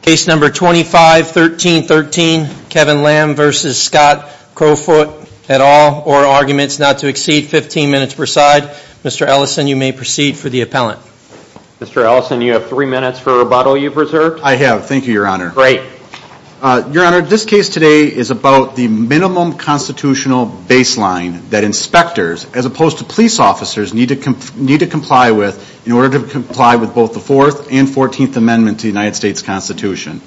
Case No. 251313, Kevin Lamb v. Scott Crofoot, et al., or arguments not to exceed 15 minutes per side. Mr. Ellison, you may proceed for the appellant. Mr. Ellison, you have three minutes for a rebuttal you've reserved. I have. Thank you, Your Honor. Great. Your Honor, this case today is about the minimum constitutional baseline that inspectors, as opposed to police officers, need to comply with in order to comply with both the Fourth and Fourteenth Amendment to the United States Constitution.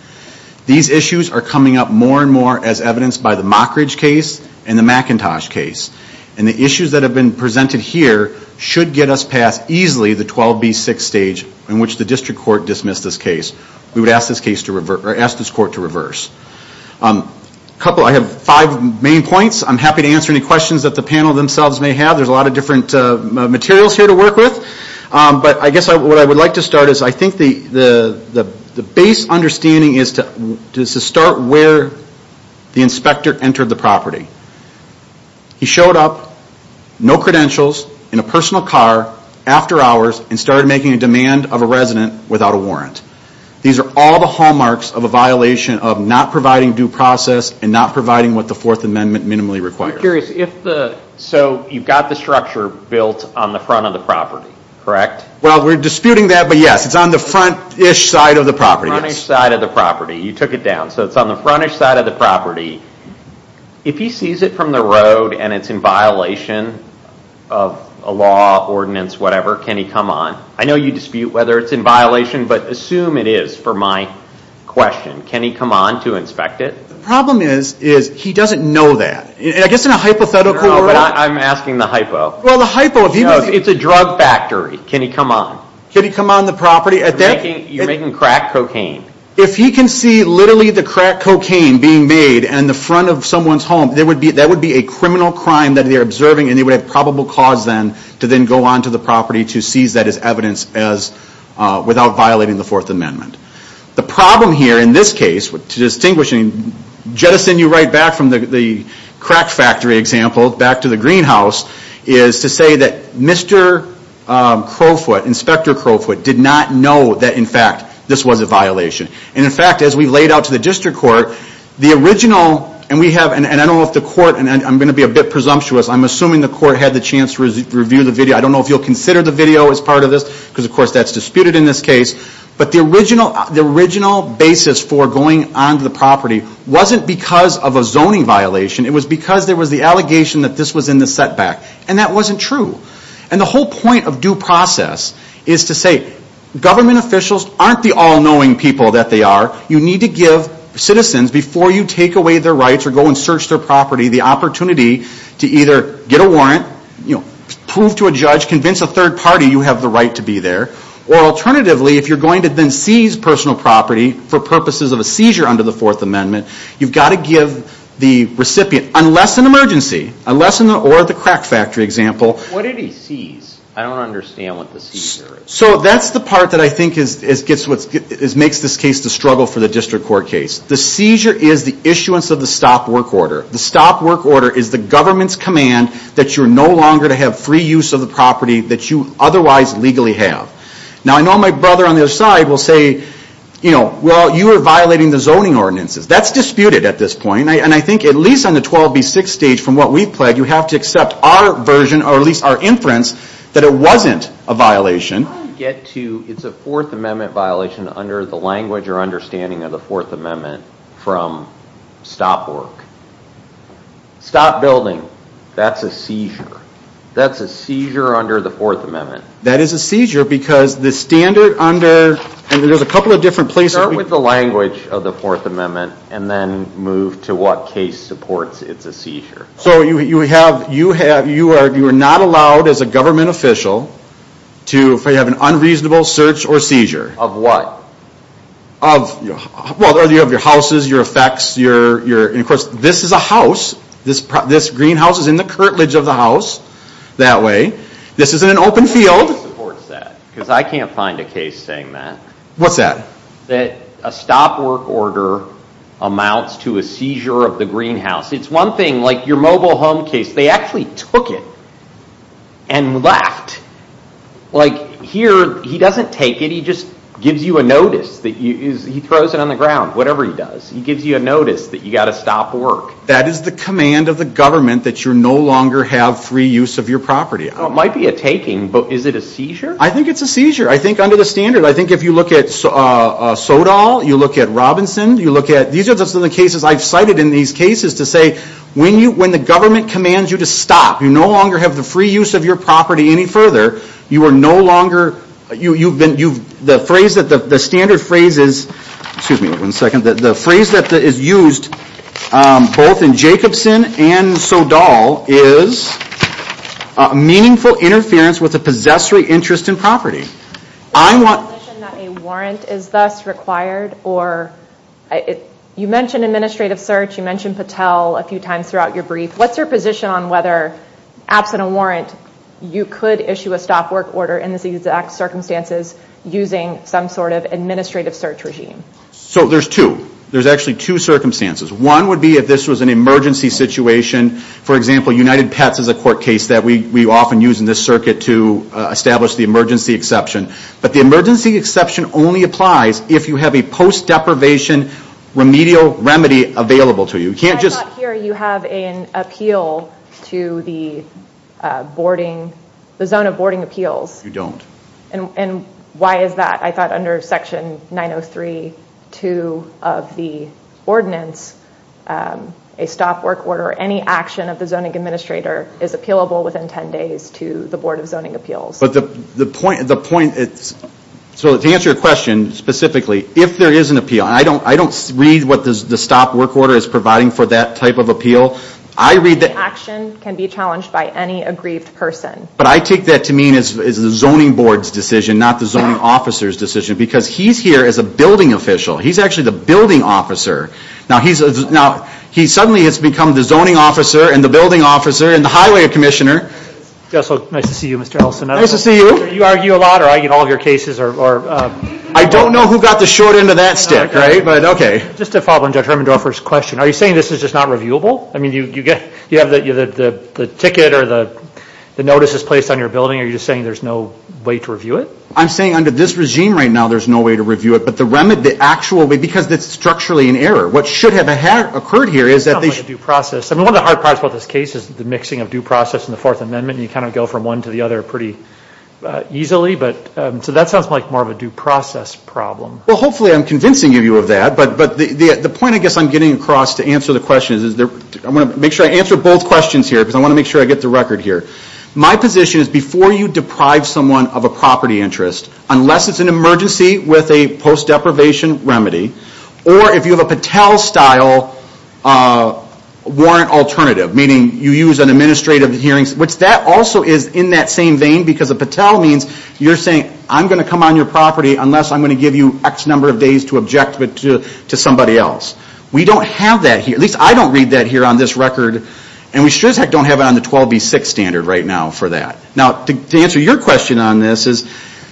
These issues are coming up more and more as evidenced by the Mockridge case and the McIntosh case. And the issues that have been presented here should get us past easily the 12B6 stage in which the District Court dismissed this case. We would ask this court to reverse. I have five main points. I'm happy to answer any questions that the panel themselves may have. There's a lot of different materials here to work with. But I guess what I would like to start is, I think the base understanding is to start where the inspector entered the property. He showed up, no credentials, in a personal car, after hours, and started making a demand of a resident without a warrant. These are all the hallmarks of a violation of not providing due process and not providing what the Fourth Amendment minimally requires. So you've got the structure built on the front of the property, correct? Well, we're disputing that, but yes, it's on the front-ish side of the property. Front-ish side of the property. You took it down. So it's on the front-ish side of the property. If he sees it from the road and it's in violation of a law, ordinance, whatever, can he come on? I know you dispute whether it's in violation, but assume it is for my question. Can he come on to inspect it? The problem is, he doesn't know that. I guess in a hypothetical world... I'm asking the hypo. It's a drug factory. Can he come on? Can he come on the property? You're making crack cocaine. If he can see literally the crack cocaine being made on the front of someone's home, that would be a criminal crime that they're observing, and they would have probable cause then to then go on to the property to seize that as evidence without violating the Fourth Amendment. The problem here in this case, to distinguish and jettison you right back from the crack factory example, back to the greenhouse, is to say that Mr. Crowfoot, Inspector Crowfoot, did not know that, in fact, this was a violation. And in fact, as we laid out to the district court, the original... And I don't know if the court... I'm going to be a bit presumptuous. I'm assuming the court had the chance to review the video. I don't know if you'll consider the video as part of this, because of course that's disputed in this case. But the original basis for going on to the property wasn't because of a zoning violation. It was because there was the allegation that this was in the setback. And that wasn't true. And the whole point of due process is to say government officials aren't the all-knowing people that they are. You need to give citizens, before you take away their rights or go and search their property, the opportunity to either get a warrant, prove to a judge, convince a third party you have the right to be there. Or alternatively, if you're going to then seize personal property for purposes of a seizure under the Fourth Amendment, you've got to give the recipient, unless an emergency, or the crack factory example... What did he seize? I don't understand what the seizure is. So that's the part that I think makes this case the struggle for the district court case. The seizure is the issuance of the Stop Work Order. The Stop Work Order is the government's command that you're no longer to have free use of the property that you otherwise legally have. Now I know my brother on the other side will say, you know, well you are violating the zoning ordinances. That's disputed at this point. And I think at least on the 12B6 stage, from what we've pledged, you have to accept our version, or at least our inference, that it wasn't a violation. I get to, it's a Fourth Amendment violation under the language or understanding of the Fourth Amendment from Stop Work. Stop building. That's a seizure. That's a seizure under the Fourth Amendment. That is a seizure because the standard under... and there's a couple of different places... Start with the language of the Fourth Amendment and then move to what case supports it's a seizure. So you have, you are not allowed as a government official to have an unreasonable search or seizure. Of what? Of, well you have your houses, your effects, your, and of course this is a house. This greenhouse is in the curtilage of the house, that way. This isn't an open field. What case supports that? Because I can't find a case saying that. What's that? That a Stop Work Order amounts to a seizure of the greenhouse. It's one thing, like your mobile home case, they actually took it and left. Like here, he doesn't take it, he just gives you a notice, he throws it on the ground, whatever he does. He gives you a notice that you've got to stop work. That is the command of the government that you no longer have free use of your property. It might be a taking, but is it a seizure? I think it's a seizure. I think under the standard, I think if you look at Sodal, you look at Robinson, you look at, these are just some of the cases I've cited in these cases to say when the government commands you to stop, you no longer have the free use of your property any further, you are no longer, you've been, the phrase that the standard phrase is, excuse me one second, the phrase that is used both in Jacobson and Sodal is meaningful interference with a possessory interest in property. Is it a position that a warrant is thus required or, you mentioned administrative search, you mentioned Patel a few times throughout your brief, what's your position on whether, absent a warrant, you could issue a stop work order in these exact circumstances using some sort of administrative search regime? So there's two. There's actually two circumstances. One would be if this was an emergency situation, for example, United Pets is a court case that we often use in this circuit to establish the emergency exception, but the emergency exception only applies if you have a post deprivation remedial remedy available to you. I thought here you have an appeal to the zoning of boarding appeals. You don't. And why is that? I thought under section 903.2 of the ordinance, a stop work order, or any action of the zoning administrator is appealable within 10 days to the Board of Zoning Appeals. But the point, so to answer your question specifically, if there is an appeal, I don't read what the stop work order is providing for that type of appeal. Any action can be challenged by any aggrieved person. But I take that to mean it's the zoning board's decision, not the zoning officer's decision, because he's here as a building official. He's actually the building officer. Now, he suddenly has become the zoning officer and the building officer and the highway commissioner. Yes, so nice to see you, Mr. Ellison. Nice to see you. Do you argue a lot or argue all of your cases? I don't know who got the short end of that stick, right? But okay. Just to follow up on Judge Hermandorfer's question, are you saying this is just not reviewable? I mean, you have the ticket or the notices placed on your building. Are you just saying there's no way to review it? I'm saying under this regime right now, there's no way to review it. But the actual, because it's structurally in error. What should have occurred here is that they should... It sounds like a due process. I mean, one of the hard parts about this case is the mixing of due process and the Fourth Amendment. You kind of go from one to the other pretty easily. So that sounds like more of a due process problem. Well, hopefully I'm convincing you of that. But the point I guess I'm getting across to answer the question is, I want to make sure I answer both questions here because I want to make sure I get the record here. My position is before you deprive someone of a property interest, unless it's an emergency with a post deprivation remedy, or if you have a Patel style warrant alternative, meaning you use an administrative hearing, which that also is in that same vein because a Patel means you're saying, I'm going to come on your property unless I'm going to give you X number of days to object to somebody else. We don't have that here. At least I don't read that here on this record. And we sure as heck don't have it on the 12B6 standard right now for that. Now to answer your question on this is,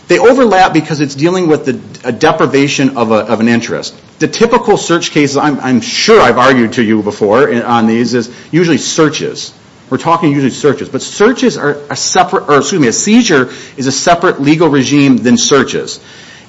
they overlap because it's dealing with a deprivation of an interest. The typical search cases, I'm sure I've argued to you before on these, is usually searches. We're talking usually searches. But searches are a separate, or excuse me, a seizure is a separate legal regime than searches.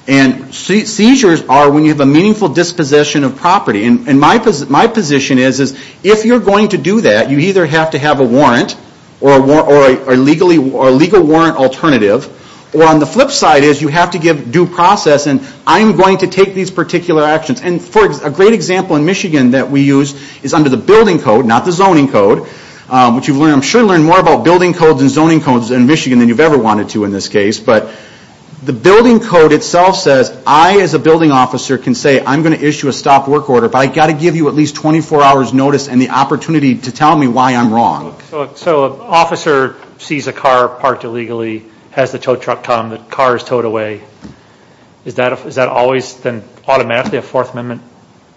And seizures are when you have a meaningful dispossession of property. And my position is, if you're going to do that, you either have to have a warrant or a legal warrant alternative, or on the flip side is you have to give due process and I'm going to take these particular actions. And a great example in Michigan that we use is under the building code, not the zoning code, which I'm sure you've learned more about building codes and zoning codes in Michigan than you've ever wanted to in this case. But the building code itself says, I as a building officer can say I'm going to issue a stop work order, but I've got to give you at least 24 hours notice and the opportunity to tell me why I'm wrong. So an officer sees a car parked illegally, has the tow truck come, the car is towed away. Is that always then automatically a Fourth Amendment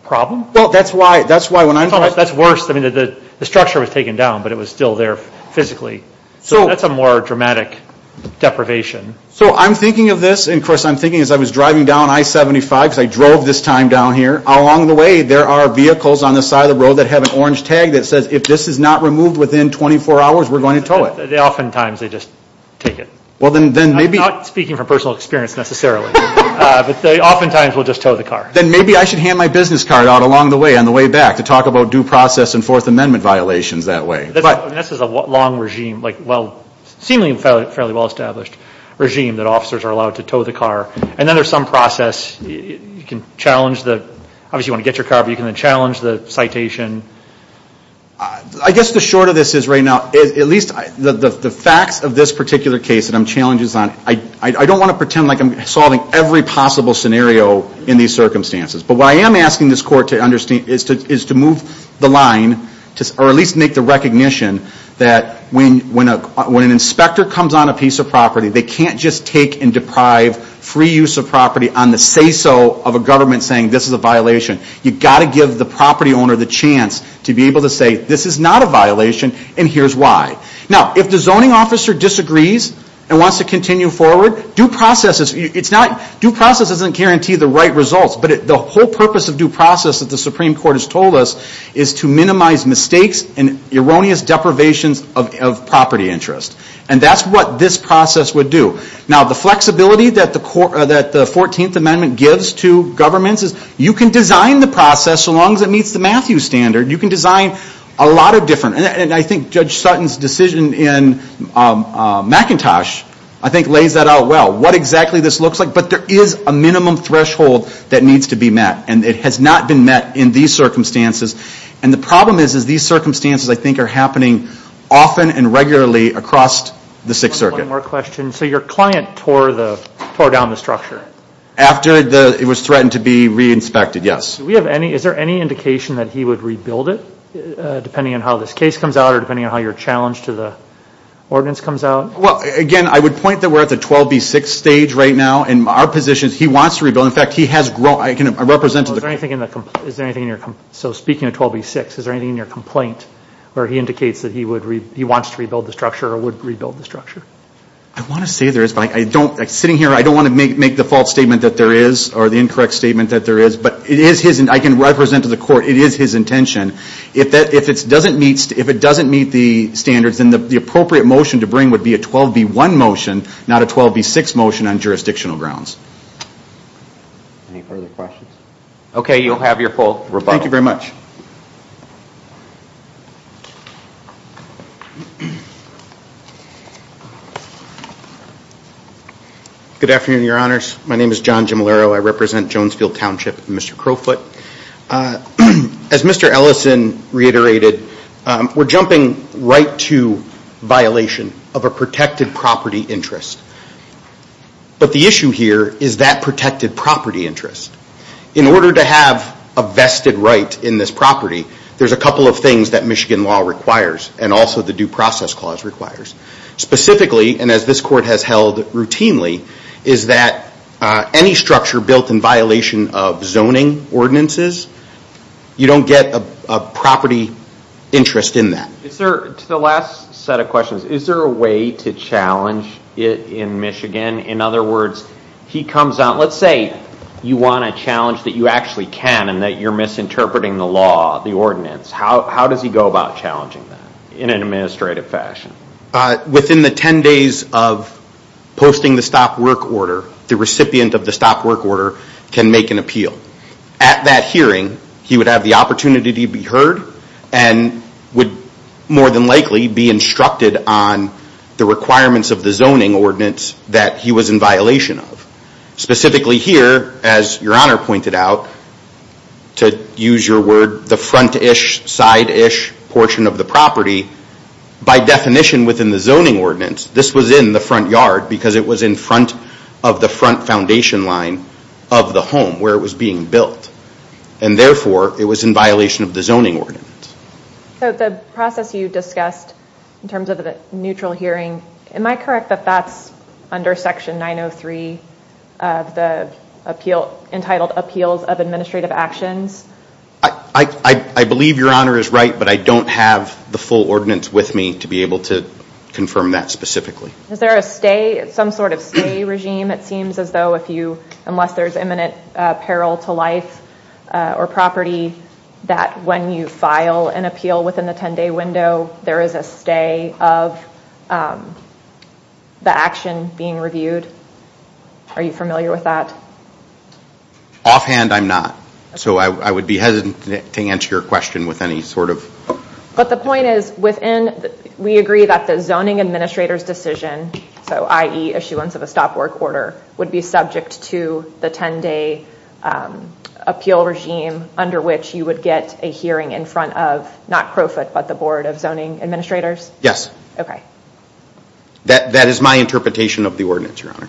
problem? Well, that's why, that's why when I... That's worse, I mean the structure was taken down, but it was still there physically. So that's a more dramatic deprivation. So I'm thinking of this, and of course I'm thinking as I was driving down I-75, because I drove this time down here, along the way there are vehicles on the side of the road that have an orange tag that says if this is not removed within 24 hours, we're going to tow it. They oftentimes, they just take it. I'm not speaking from personal experience necessarily, but they oftentimes will just tow the car. Then maybe I should hand my business card out along the way, on the way back, to talk about due process and Fourth Amendment violations that way. This is a long regime, like well, seemingly fairly well established regime that officers are allowed to tow the car. And then there's some process, you can challenge the, obviously you want to get your car, but you can then challenge the citation. I guess the short of this is right now, at least the facts of this particular case that I'm challenging is on, I don't want to pretend like I'm solving every possible scenario in these circumstances. But what I am asking this court to understand is to move the line, or at least make the recognition that when an inspector comes on a piece of property, they can't just take and deprive free use of property on the say-so of a government saying this is a violation. You've got to give the property owner the chance to be able to say, this is not a violation and here's why. Now, if the zoning officer disagrees and wants to continue forward, due process doesn't guarantee the right results, but the whole purpose of due process that the Supreme Court has told us is to minimize mistakes and erroneous deprivations of property interest. And that's what this process would do. Now, the flexibility that the 14th Amendment gives to governments is you can design the process so long as it meets the Matthew standard. You can design a lot of different, and I think Judge Sutton's decision in McIntosh I think lays that out well, what exactly this looks like, but there is a minimum threshold that needs to be met. And it has not been met in these circumstances. And the problem is, is these circumstances I think are happening often and regularly across the Sixth Circuit. One more question. So your client tore down the structure? After it was threatened to be re-inspected, yes. Do we have any, is there any indication that he would rebuild it depending on how this case comes out or depending on how your challenge to the ordinance comes out? Well, again, I would point that we're at the 12B6 stage right now and our position is he wants to rebuild. In fact, he has grown, I can represent to the court. Is there anything in your, so speaking of 12B6, is there anything in your complaint where he indicates that he would, he wants to rebuild the structure or would rebuild the structure? I want to say there is, but I don't, sitting here, I don't want to make the false statement that there is or the incorrect statement that there is. But it is his, I can represent to the court, it is his intention. If it doesn't meet the standards, then the appropriate motion to bring would be a 12B1 motion, not a 12B6 motion on jurisdictional grounds. Any further questions? Okay, you'll have your full rebuttal. Thank you very much. Good afternoon, your honors. My name is John Gimolaro. I represent Jonesfield Township and Mr. Crowfoot. As Mr. Ellison reiterated, we're jumping right to violation of a protected property interest. But the issue here is that protected property interest. In order to have a vested right in this property, there's a couple of things that Michigan law requires and also the Due Process Clause requires. Specifically, and as this court has held routinely, is that any structure built in violation of zoning ordinances, you don't get a property interest in that. To the last set of questions, is there a way to challenge it in Michigan? In other words, he comes out, let's say you want to challenge that you actually can and that you're misinterpreting the law, the ordinance. How does he go about challenging that in an administrative fashion? Within the 10 days of posting the stop work order, the recipient of the stop work order can make an appeal. At that hearing, he would have the opportunity to be heard and would more than likely be instructed on the requirements of the zoning ordinance that he was in violation of. Specifically here, as Your Honor pointed out, to use your word, the front-ish, side-ish portion of the property, by definition within the zoning ordinance, this was in the front yard because it was in front of the front foundation line of the home where it was being built. Therefore, it was in violation of the zoning ordinance. The process you discussed in terms of a neutral hearing, am I correct that that's under Section 903 of the entitled Appeals of Administrative Actions? I believe Your Honor is right, but I don't have the full ordinance with me to be able to confirm that specifically. Is there some sort of stay regime? It seems as though if you, unless there's imminent peril to life or property, that when you file an appeal within the 10-day window, there is a stay of the action being reviewed. Are you familiar with that? Offhand, I'm not. So I would be hesitant to answer your question with any sort of... But the point is within, we agree that the zoning administrator's decision, i.e. issuance of a stop work order, would be subject to the 10-day appeal regime under which you would get a hearing in front of, not Crowfoot, but the Board of Zoning Administrators? Yes. Okay. That is my interpretation of the ordinance, Your Honor.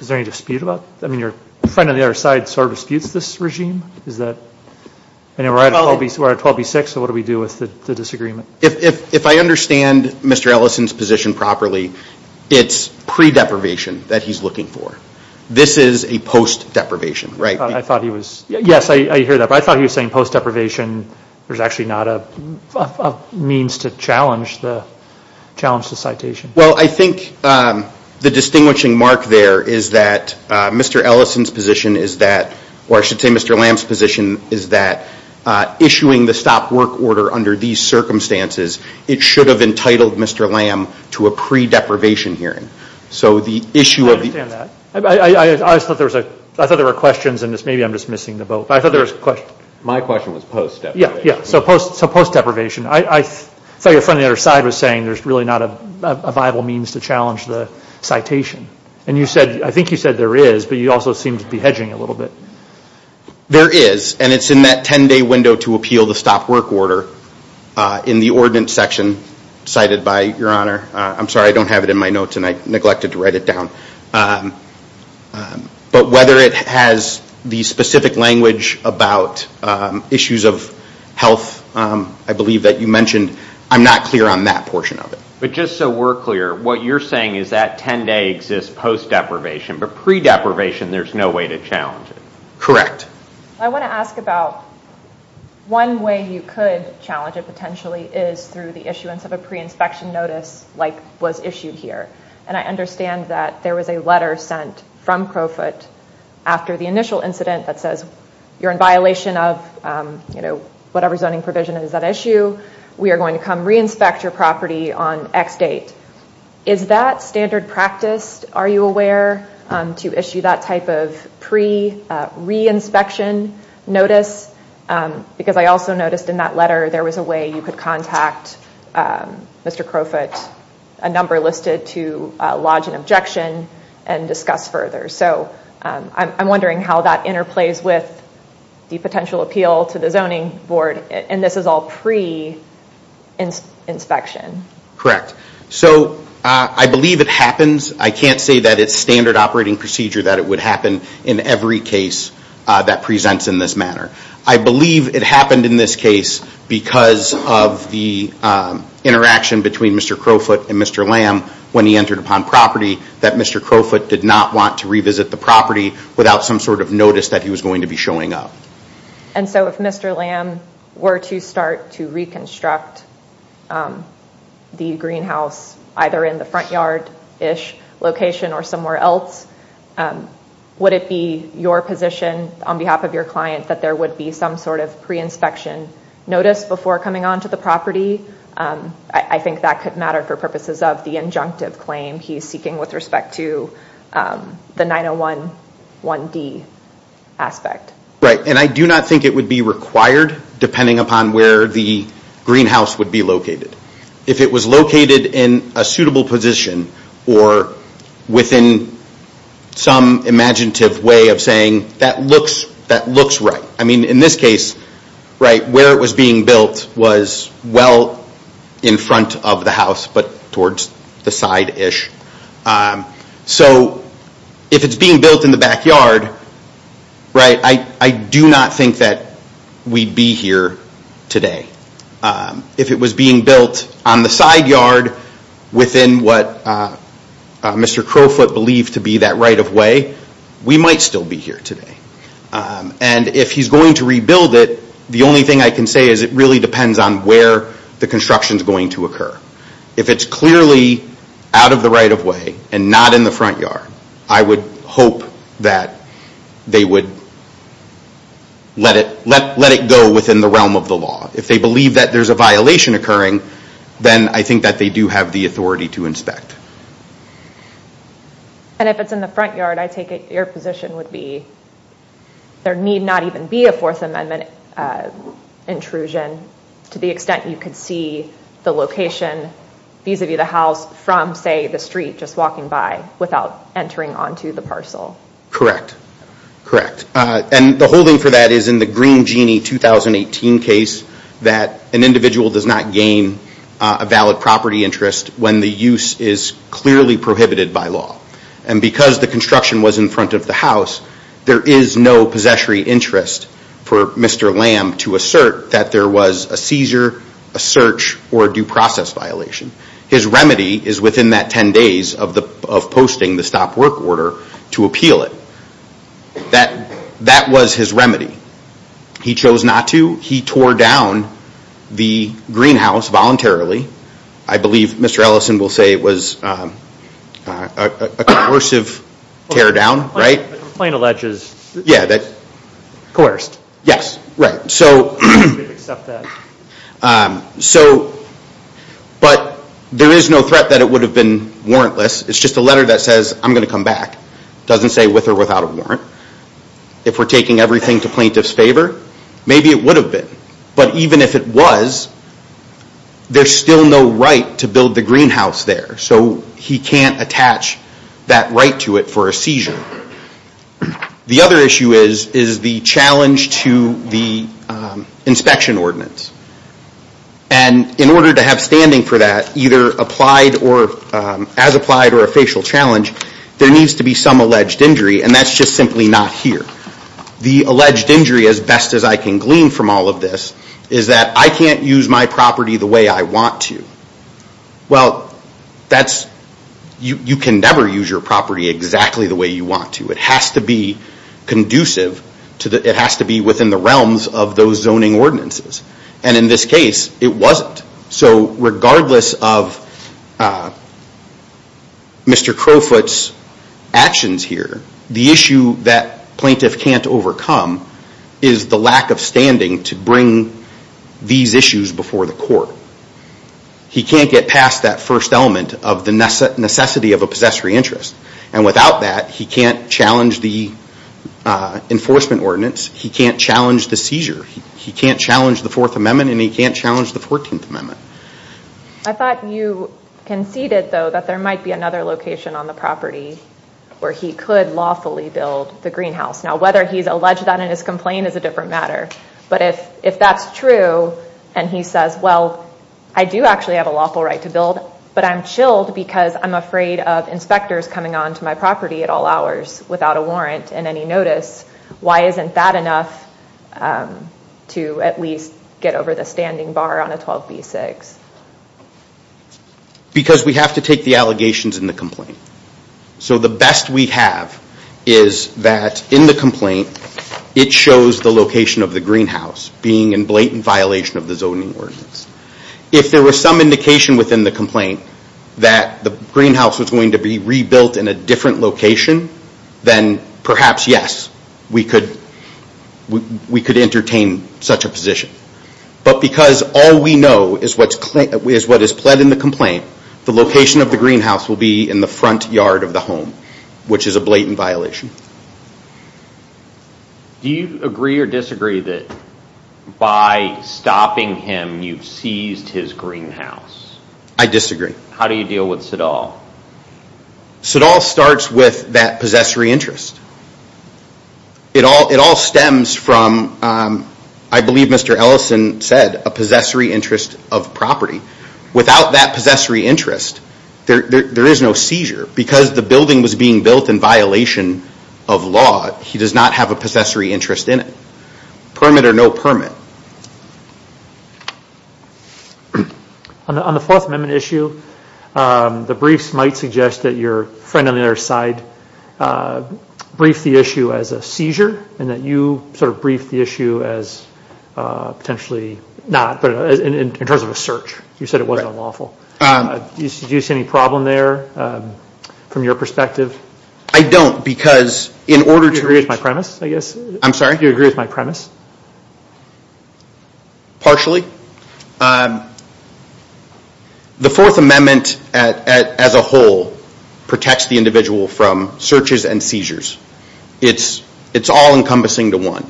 Is there any dispute about that? Your friend on the other side sort of disputes this regime? We're at 12B6, so what do we do with the disagreement? If I understand Mr. Ellison's position properly, it's pre-deprivation that he's looking for. This is a post-deprivation, right? Yes, I hear that. But I thought he was saying post-deprivation, a means to challenge the citation. Well, I think the distinguishing mark there is that Mr. Ellison's position is that, or I should say Mr. Lamb's position is that issuing the stop work order under these circumstances, it should have entitled Mr. Lamb to a pre-deprivation hearing. I understand that. I thought there were questions, and maybe I'm just missing the boat. My question was post-deprivation. Yeah, so post-deprivation. I thought your friend on the other side was saying there's really not a viable means to challenge the citation. I think you said there is, but you also seem to be hedging a little bit. There is, and it's in that 10-day window to appeal the stop work order in the ordinance section cited by Your Honor. I'm sorry, I don't have it in my notes, and I neglected to write it down. But whether it has the specific language about issues of health, I believe that you mentioned, I'm not clear on that portion of it. But just so we're clear, what you're saying is that 10-day exists post-deprivation, but pre-deprivation there's no way to challenge it. Correct. I want to ask about one way you could challenge it, potentially, is through the issuance of a pre-inspection notice like was issued here. And I understand that there was a letter sent from Crowfoot after the initial incident that says you're in violation of, you know, whatever zoning provision is at issue. We are going to come re-inspect your property on X date. Is that standard practice? Are you aware to issue that type of pre-re-inspection notice? Because I also noticed in that letter there was a way you could contact Mr. Crowfoot, a number listed to lodge an objection and discuss further. So I'm wondering how that interplays with the potential appeal to the zoning board. And this is all pre-inspection. Correct. So I believe it happens. I can't say that it's standard operating procedure that it would happen in every case that presents in this manner. I believe it happened in this case because of the interaction between Mr. Crowfoot and Mr. Lamb when he entered upon property that Mr. Crowfoot did not want to revisit the property without some sort of notice that he was going to be showing up. And so if Mr. Lamb were to start to reconstruct the greenhouse either in the front yard-ish location or somewhere else, would it be your position on behalf of your client that there would be some sort of pre-inspection notice before coming onto the property? I think that could matter for purposes of the injunctive claim he's seeking with respect to the 901 1D aspect. And I do not think it would be required depending upon where the greenhouse would be located. If it was located in a suitable position or within some imaginative way of saying that looks right. I mean, in this case, right, where it was being built was well in front of the house but towards the side-ish. So if it's being built in the backyard, right, I do not think that we'd be here today. If it was being built on the side yard within what Mr. Crowfoot believed to be that right of way, we might still be here today. And if he's going to rebuild it, the only thing I can say is it really depends on where the construction is going to occur. If it's clearly out of the right of way and not in the front yard, I would hope that they would let it go within the realm of the law. If they believe that there's a violation occurring, then I think that they do have the authority to inspect. And if it's in the front yard, I take it your position would be there need not even be a Fourth Amendment intrusion to the extent you could see the location vis-a-vis the house from, say, the street just walking by without entering onto the parcel. Correct. Correct. And the holding for that is in the Green Genie 2018 case that an individual does not gain a valid property interest when the use is clearly prohibited by law. And because the construction was in front of the house, there is no possessory interest for Mr. Lamb to assert that there was a seizure, a search, or a due process violation. His remedy is within that 10 days of posting the stop work order to appeal it. That was his remedy. He chose not to. He tore down the greenhouse voluntarily. I believe Mr. Ellison will say it was a coercive tear down, right? The complaint alleges it was coerced. Yes, right. We accept that. But there is no threat that it would have been warrantless. It's just a letter that says, I'm going to come back. It doesn't say with or without a warrant. If we're taking everything to plaintiff's favor, maybe it would have been. But even if it was, there's still no right to build the greenhouse there. So he can't attach that right to it for a seizure. The other issue is the challenge to the inspection ordinance. And in order to have standing for that, either as applied or a facial challenge, there needs to be some alleged injury. And that's just simply not here. The alleged injury, as best as I can glean from all of this, is that I can't use my property the way I want to. Well, you can never use your property exactly the way you want to. It has to be conducive. It has to be within the realms of those zoning ordinances. And in this case, it wasn't. So regardless of Mr. Crowfoot's actions here, the issue that plaintiff can't overcome is the lack of standing to bring these issues before the court. He can't get past that first element of the necessity of a possessory interest. And without that, he can't challenge the enforcement ordinance. He can't challenge the seizure. He can't challenge the Fourth Amendment. And he can't challenge the Fourteenth Amendment. I thought you conceded, though, that there might be another location on the property where he could lawfully build the greenhouse. Now, whether he's alleged that in his complaint is a different matter. But if that's true and he says, well, I do actually have a lawful right to build, but I'm chilled because I'm afraid of inspectors coming onto my property at all hours without a warrant and any notice, why isn't that enough to at least get over the standing bar on a 12b6? Because we have to take the allegations in the complaint. So the best we have is that in the complaint, it shows the location of the greenhouse being in blatant violation of the zoning ordinance. If there was some indication within the complaint that the greenhouse was going to be rebuilt in a different location, then perhaps, yes, we could entertain such a position. But because all we know is what is pled in the complaint, the location of the greenhouse will be in the front yard of the home, which is a blatant violation. Do you agree or disagree that by stopping him, you've seized his greenhouse? I disagree. How do you deal with Sidall? Sidall starts with that possessory interest. It all stems from, I believe Mr. Ellison said, a possessory interest of property. Without that possessory interest, there is no seizure. Because the building was being built in violation of law, he does not have a possessory interest in it. Permit or no permit? On the Fourth Amendment issue, the briefs might suggest that your friend on the other side briefed the issue as a seizure and that you sort of briefed the issue as potentially not, but in terms of a search. You said it wasn't unlawful. Do you see any problem there from your perspective? I don't. Do you agree with my premise? I'm sorry? Do you agree with my premise? Partially. The Fourth Amendment as a whole protects the individual from searches and seizures. It's all encompassing to one.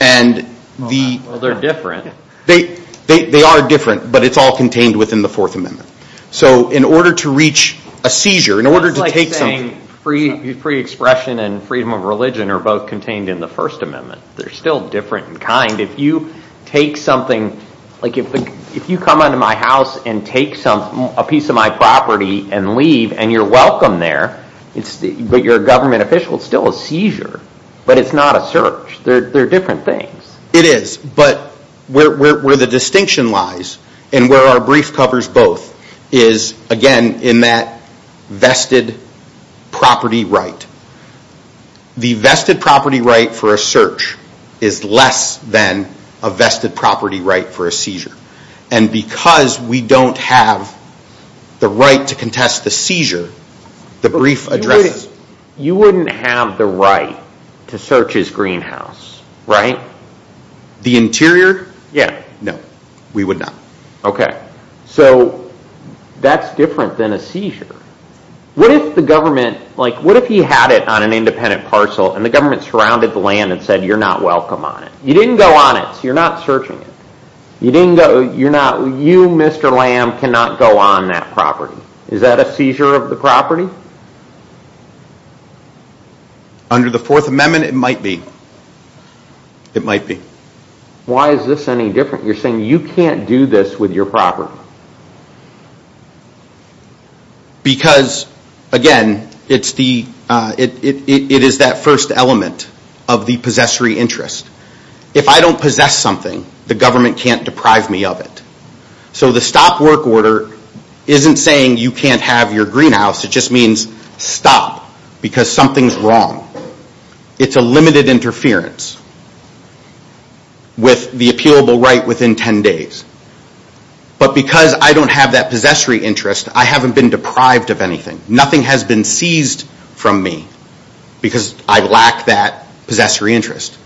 Well, they're different. They are different, but it's all contained within the Fourth Amendment. So in order to reach a seizure, in order to take something... It's like saying free expression and freedom of religion are both contained in the First Amendment. They're still different in kind. If you take something, like if you come into my house and take a piece of my property and leave and you're welcome there, but you're a government official, it's still a seizure, but it's not a search. They're different things. It is, but where the distinction lies and where our brief covers both is, again, in that vested property right. The vested property right for a search is less than a vested property right for a seizure. And because we don't have the right to contest the seizure, the brief addresses... You wouldn't have the right to search his greenhouse, right? The interior? No, we would not. Okay. So that's different than a seizure. What if the government... What if he had it on an independent parcel and the government surrounded the land and said, you're not welcome on it. You didn't go on it, so you're not searching it. You're not... You, Mr. Lamb, cannot go on that property. Is that a seizure of the property? Under the Fourth Amendment, it might be. It might be. Why is this any different? Why is this with your property? Because, again, it's the... It is that first element of the possessory interest. If I don't possess something, the government can't deprive me of it. So the stop work order isn't saying you can't have your greenhouse. It just means stop because something's wrong. It's a limited interference with the appealable right within 10 days. But because I don't have that possessory interest, I haven't been deprived of anything. Nothing has been seized from me because I lack that possessory interest.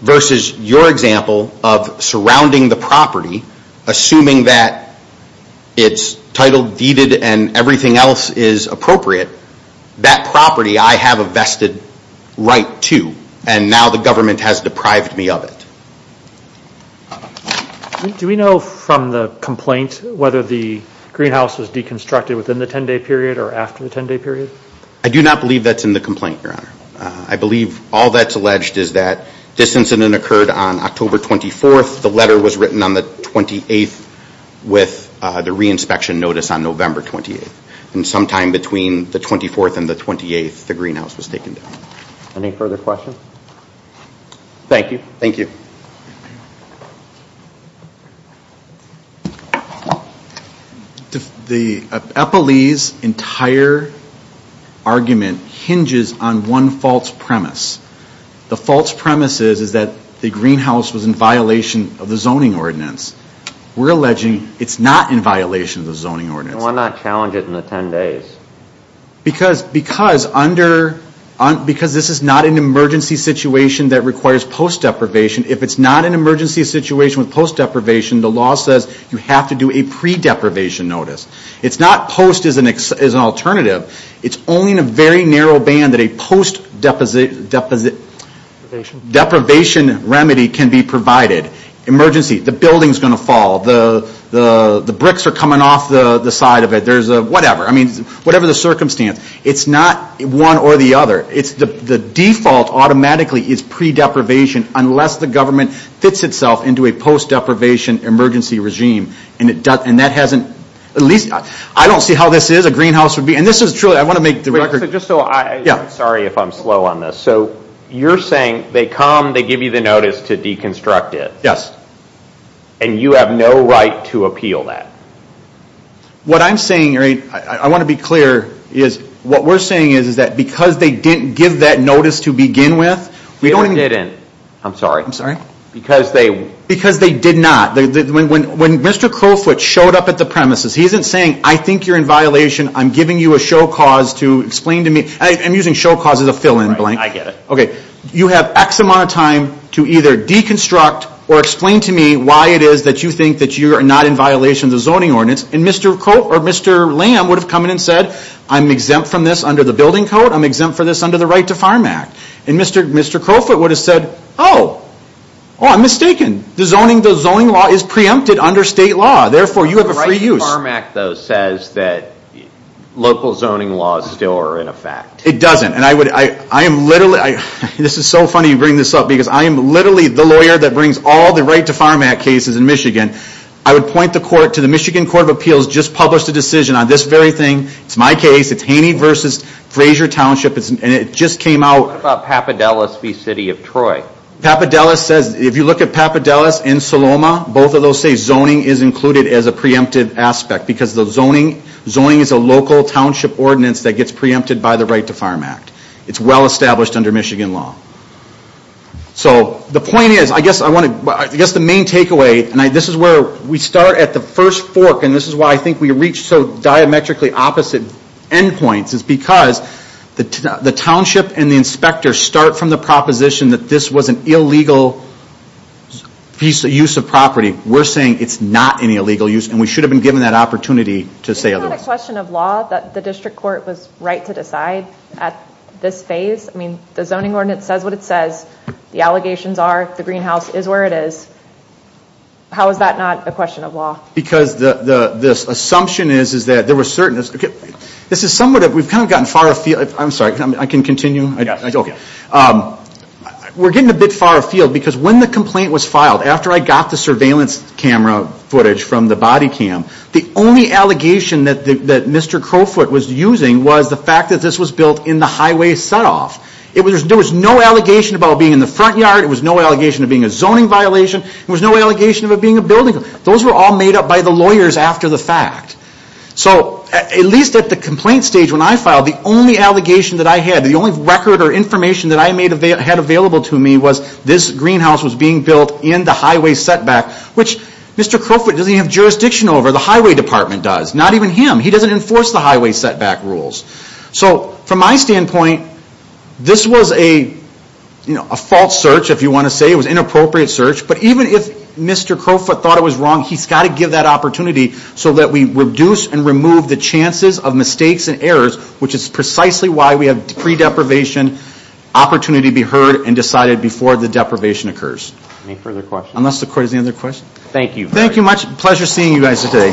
Versus your example of surrounding the property, assuming that it's titled deeded and everything else is appropriate, that property, I have a vested right to. And now the government has deprived me of it. Do we know from the complaint whether the greenhouse was deconstructed within the 10-day period or after the 10-day period? I do not believe that's in the complaint, Your Honor. I believe all that's alleged is that this incident occurred on October 24th. The letter was written on the 28th with the reinspection notice on November 28th. And sometime between the 24th and the 28th, the greenhouse was taken down. Thank you. Thank you. The Eppley's entire argument hinges on one false premise. The false premise is that the greenhouse was in violation of the zoning ordinance. We're alleging it's not in violation of the zoning ordinance. Why not challenge it in the 10 days? Because this is not an emergency situation that requires post-deprivation. If it's not an emergency situation with post-deprivation, the law says you have to do a pre-deprivation notice. It's not post as an alternative. It's only in a very narrow band that a post-deprivation remedy can be provided. Emergency. The building's going to fall. The bricks are coming off the side of it. Whatever. Whatever the circumstance. It's not one or the other. The default automatically is pre-deprivation unless the government fits itself into a post-deprivation emergency regime. And that hasn't, at least, I don't see how this is a greenhouse would be. And this is truly, I want to make the record. Sorry if I'm slow on this. So you're saying they come, they give you the notice to deconstruct it. Yes. And you have no right to appeal that. What I'm saying, I want to be clear. What we're saying is that because they didn't give that notice to begin with. They didn't. I'm sorry. Because they did not. When Mr. Crowfoot showed up at the premises, he isn't saying I think you're in violation. I'm giving you a show cause to explain to me. I'm using show cause as a fill in blank. I get it. You have X amount of time to either deconstruct or explain to me why it is that you think that you are not in violation of the zoning ordinance. And Mr. Lamb would have come in and said, I'm exempt from this under the building code. I'm exempt from this under the Right to Farm Act. And Mr. Crowfoot would have said, oh, I'm mistaken. The zoning law is preempted under state law. Therefore, you have a free use. The Right to Farm Act, though, says that local zoning laws still are in effect. It doesn't. And I am literally, this is so funny you bring this up, because I am literally the lawyer that brings all the Right to Farm Act cases in Michigan. I would point the court to the Michigan Court of Appeals just published a decision on this very thing. It's my case. It's Haney versus Fraser Township. And it just came out. What about Papadelas v. City of Troy? Papadelas says, if you look at Papadelas and Saloma, both of those say zoning is included as a preemptive aspect. Because the zoning, zoning is a local township ordinance that gets preempted by the Right to Farm Act. It's well established under Michigan law. So the point is, I guess the main takeaway, and this is where we start at the first fork, and this is why I think we reach so diametrically opposite endpoints, is because the township and the inspector start from the proposition that this was an illegal use of property. We're saying it's not an illegal use, and we should have been given that opportunity to say otherwise. Isn't that a question of law that the district court was right to decide at this phase? I mean, the zoning ordinance says what it says. The allegations are, the greenhouse is where it is. How is that not a question of law? Because the assumption is, is that there were certain, this is somewhat of, we've kind of gotten far afield, I'm sorry, I can continue? Yes. Okay. We're getting a bit far afield because when the complaint was filed, after I got the surveillance camera footage from the body cam, the only allegation that Mr. Crowfoot was using was the fact that this was built in the highway set off. There was no allegation about it being in the front yard. There was no allegation about it being a zoning violation. There was no allegation about it being a building. Those were all made up by the lawyers after the fact. So, at least at the complaint stage, when I filed, the only allegation that I had, the only record or information that I had available to me was this greenhouse was being built in the highway setback, which Mr. Crowfoot doesn't even have jurisdiction over. The highway department does. Not even him. He doesn't enforce the highway setback rules. So, from my standpoint, this was a, you know, a false search, if you want to say. It was an inappropriate search. But even if Mr. Crowfoot thought it was wrong, he's got to give that opportunity so that we reduce and remove the chances of mistakes and errors, which is precisely why we have pre-deprivation opportunity to be heard and decided before the deprivation occurs. Any further questions? Unless the Court has any other questions. Thank you. Thank you much. Pleasure seeing you guys today.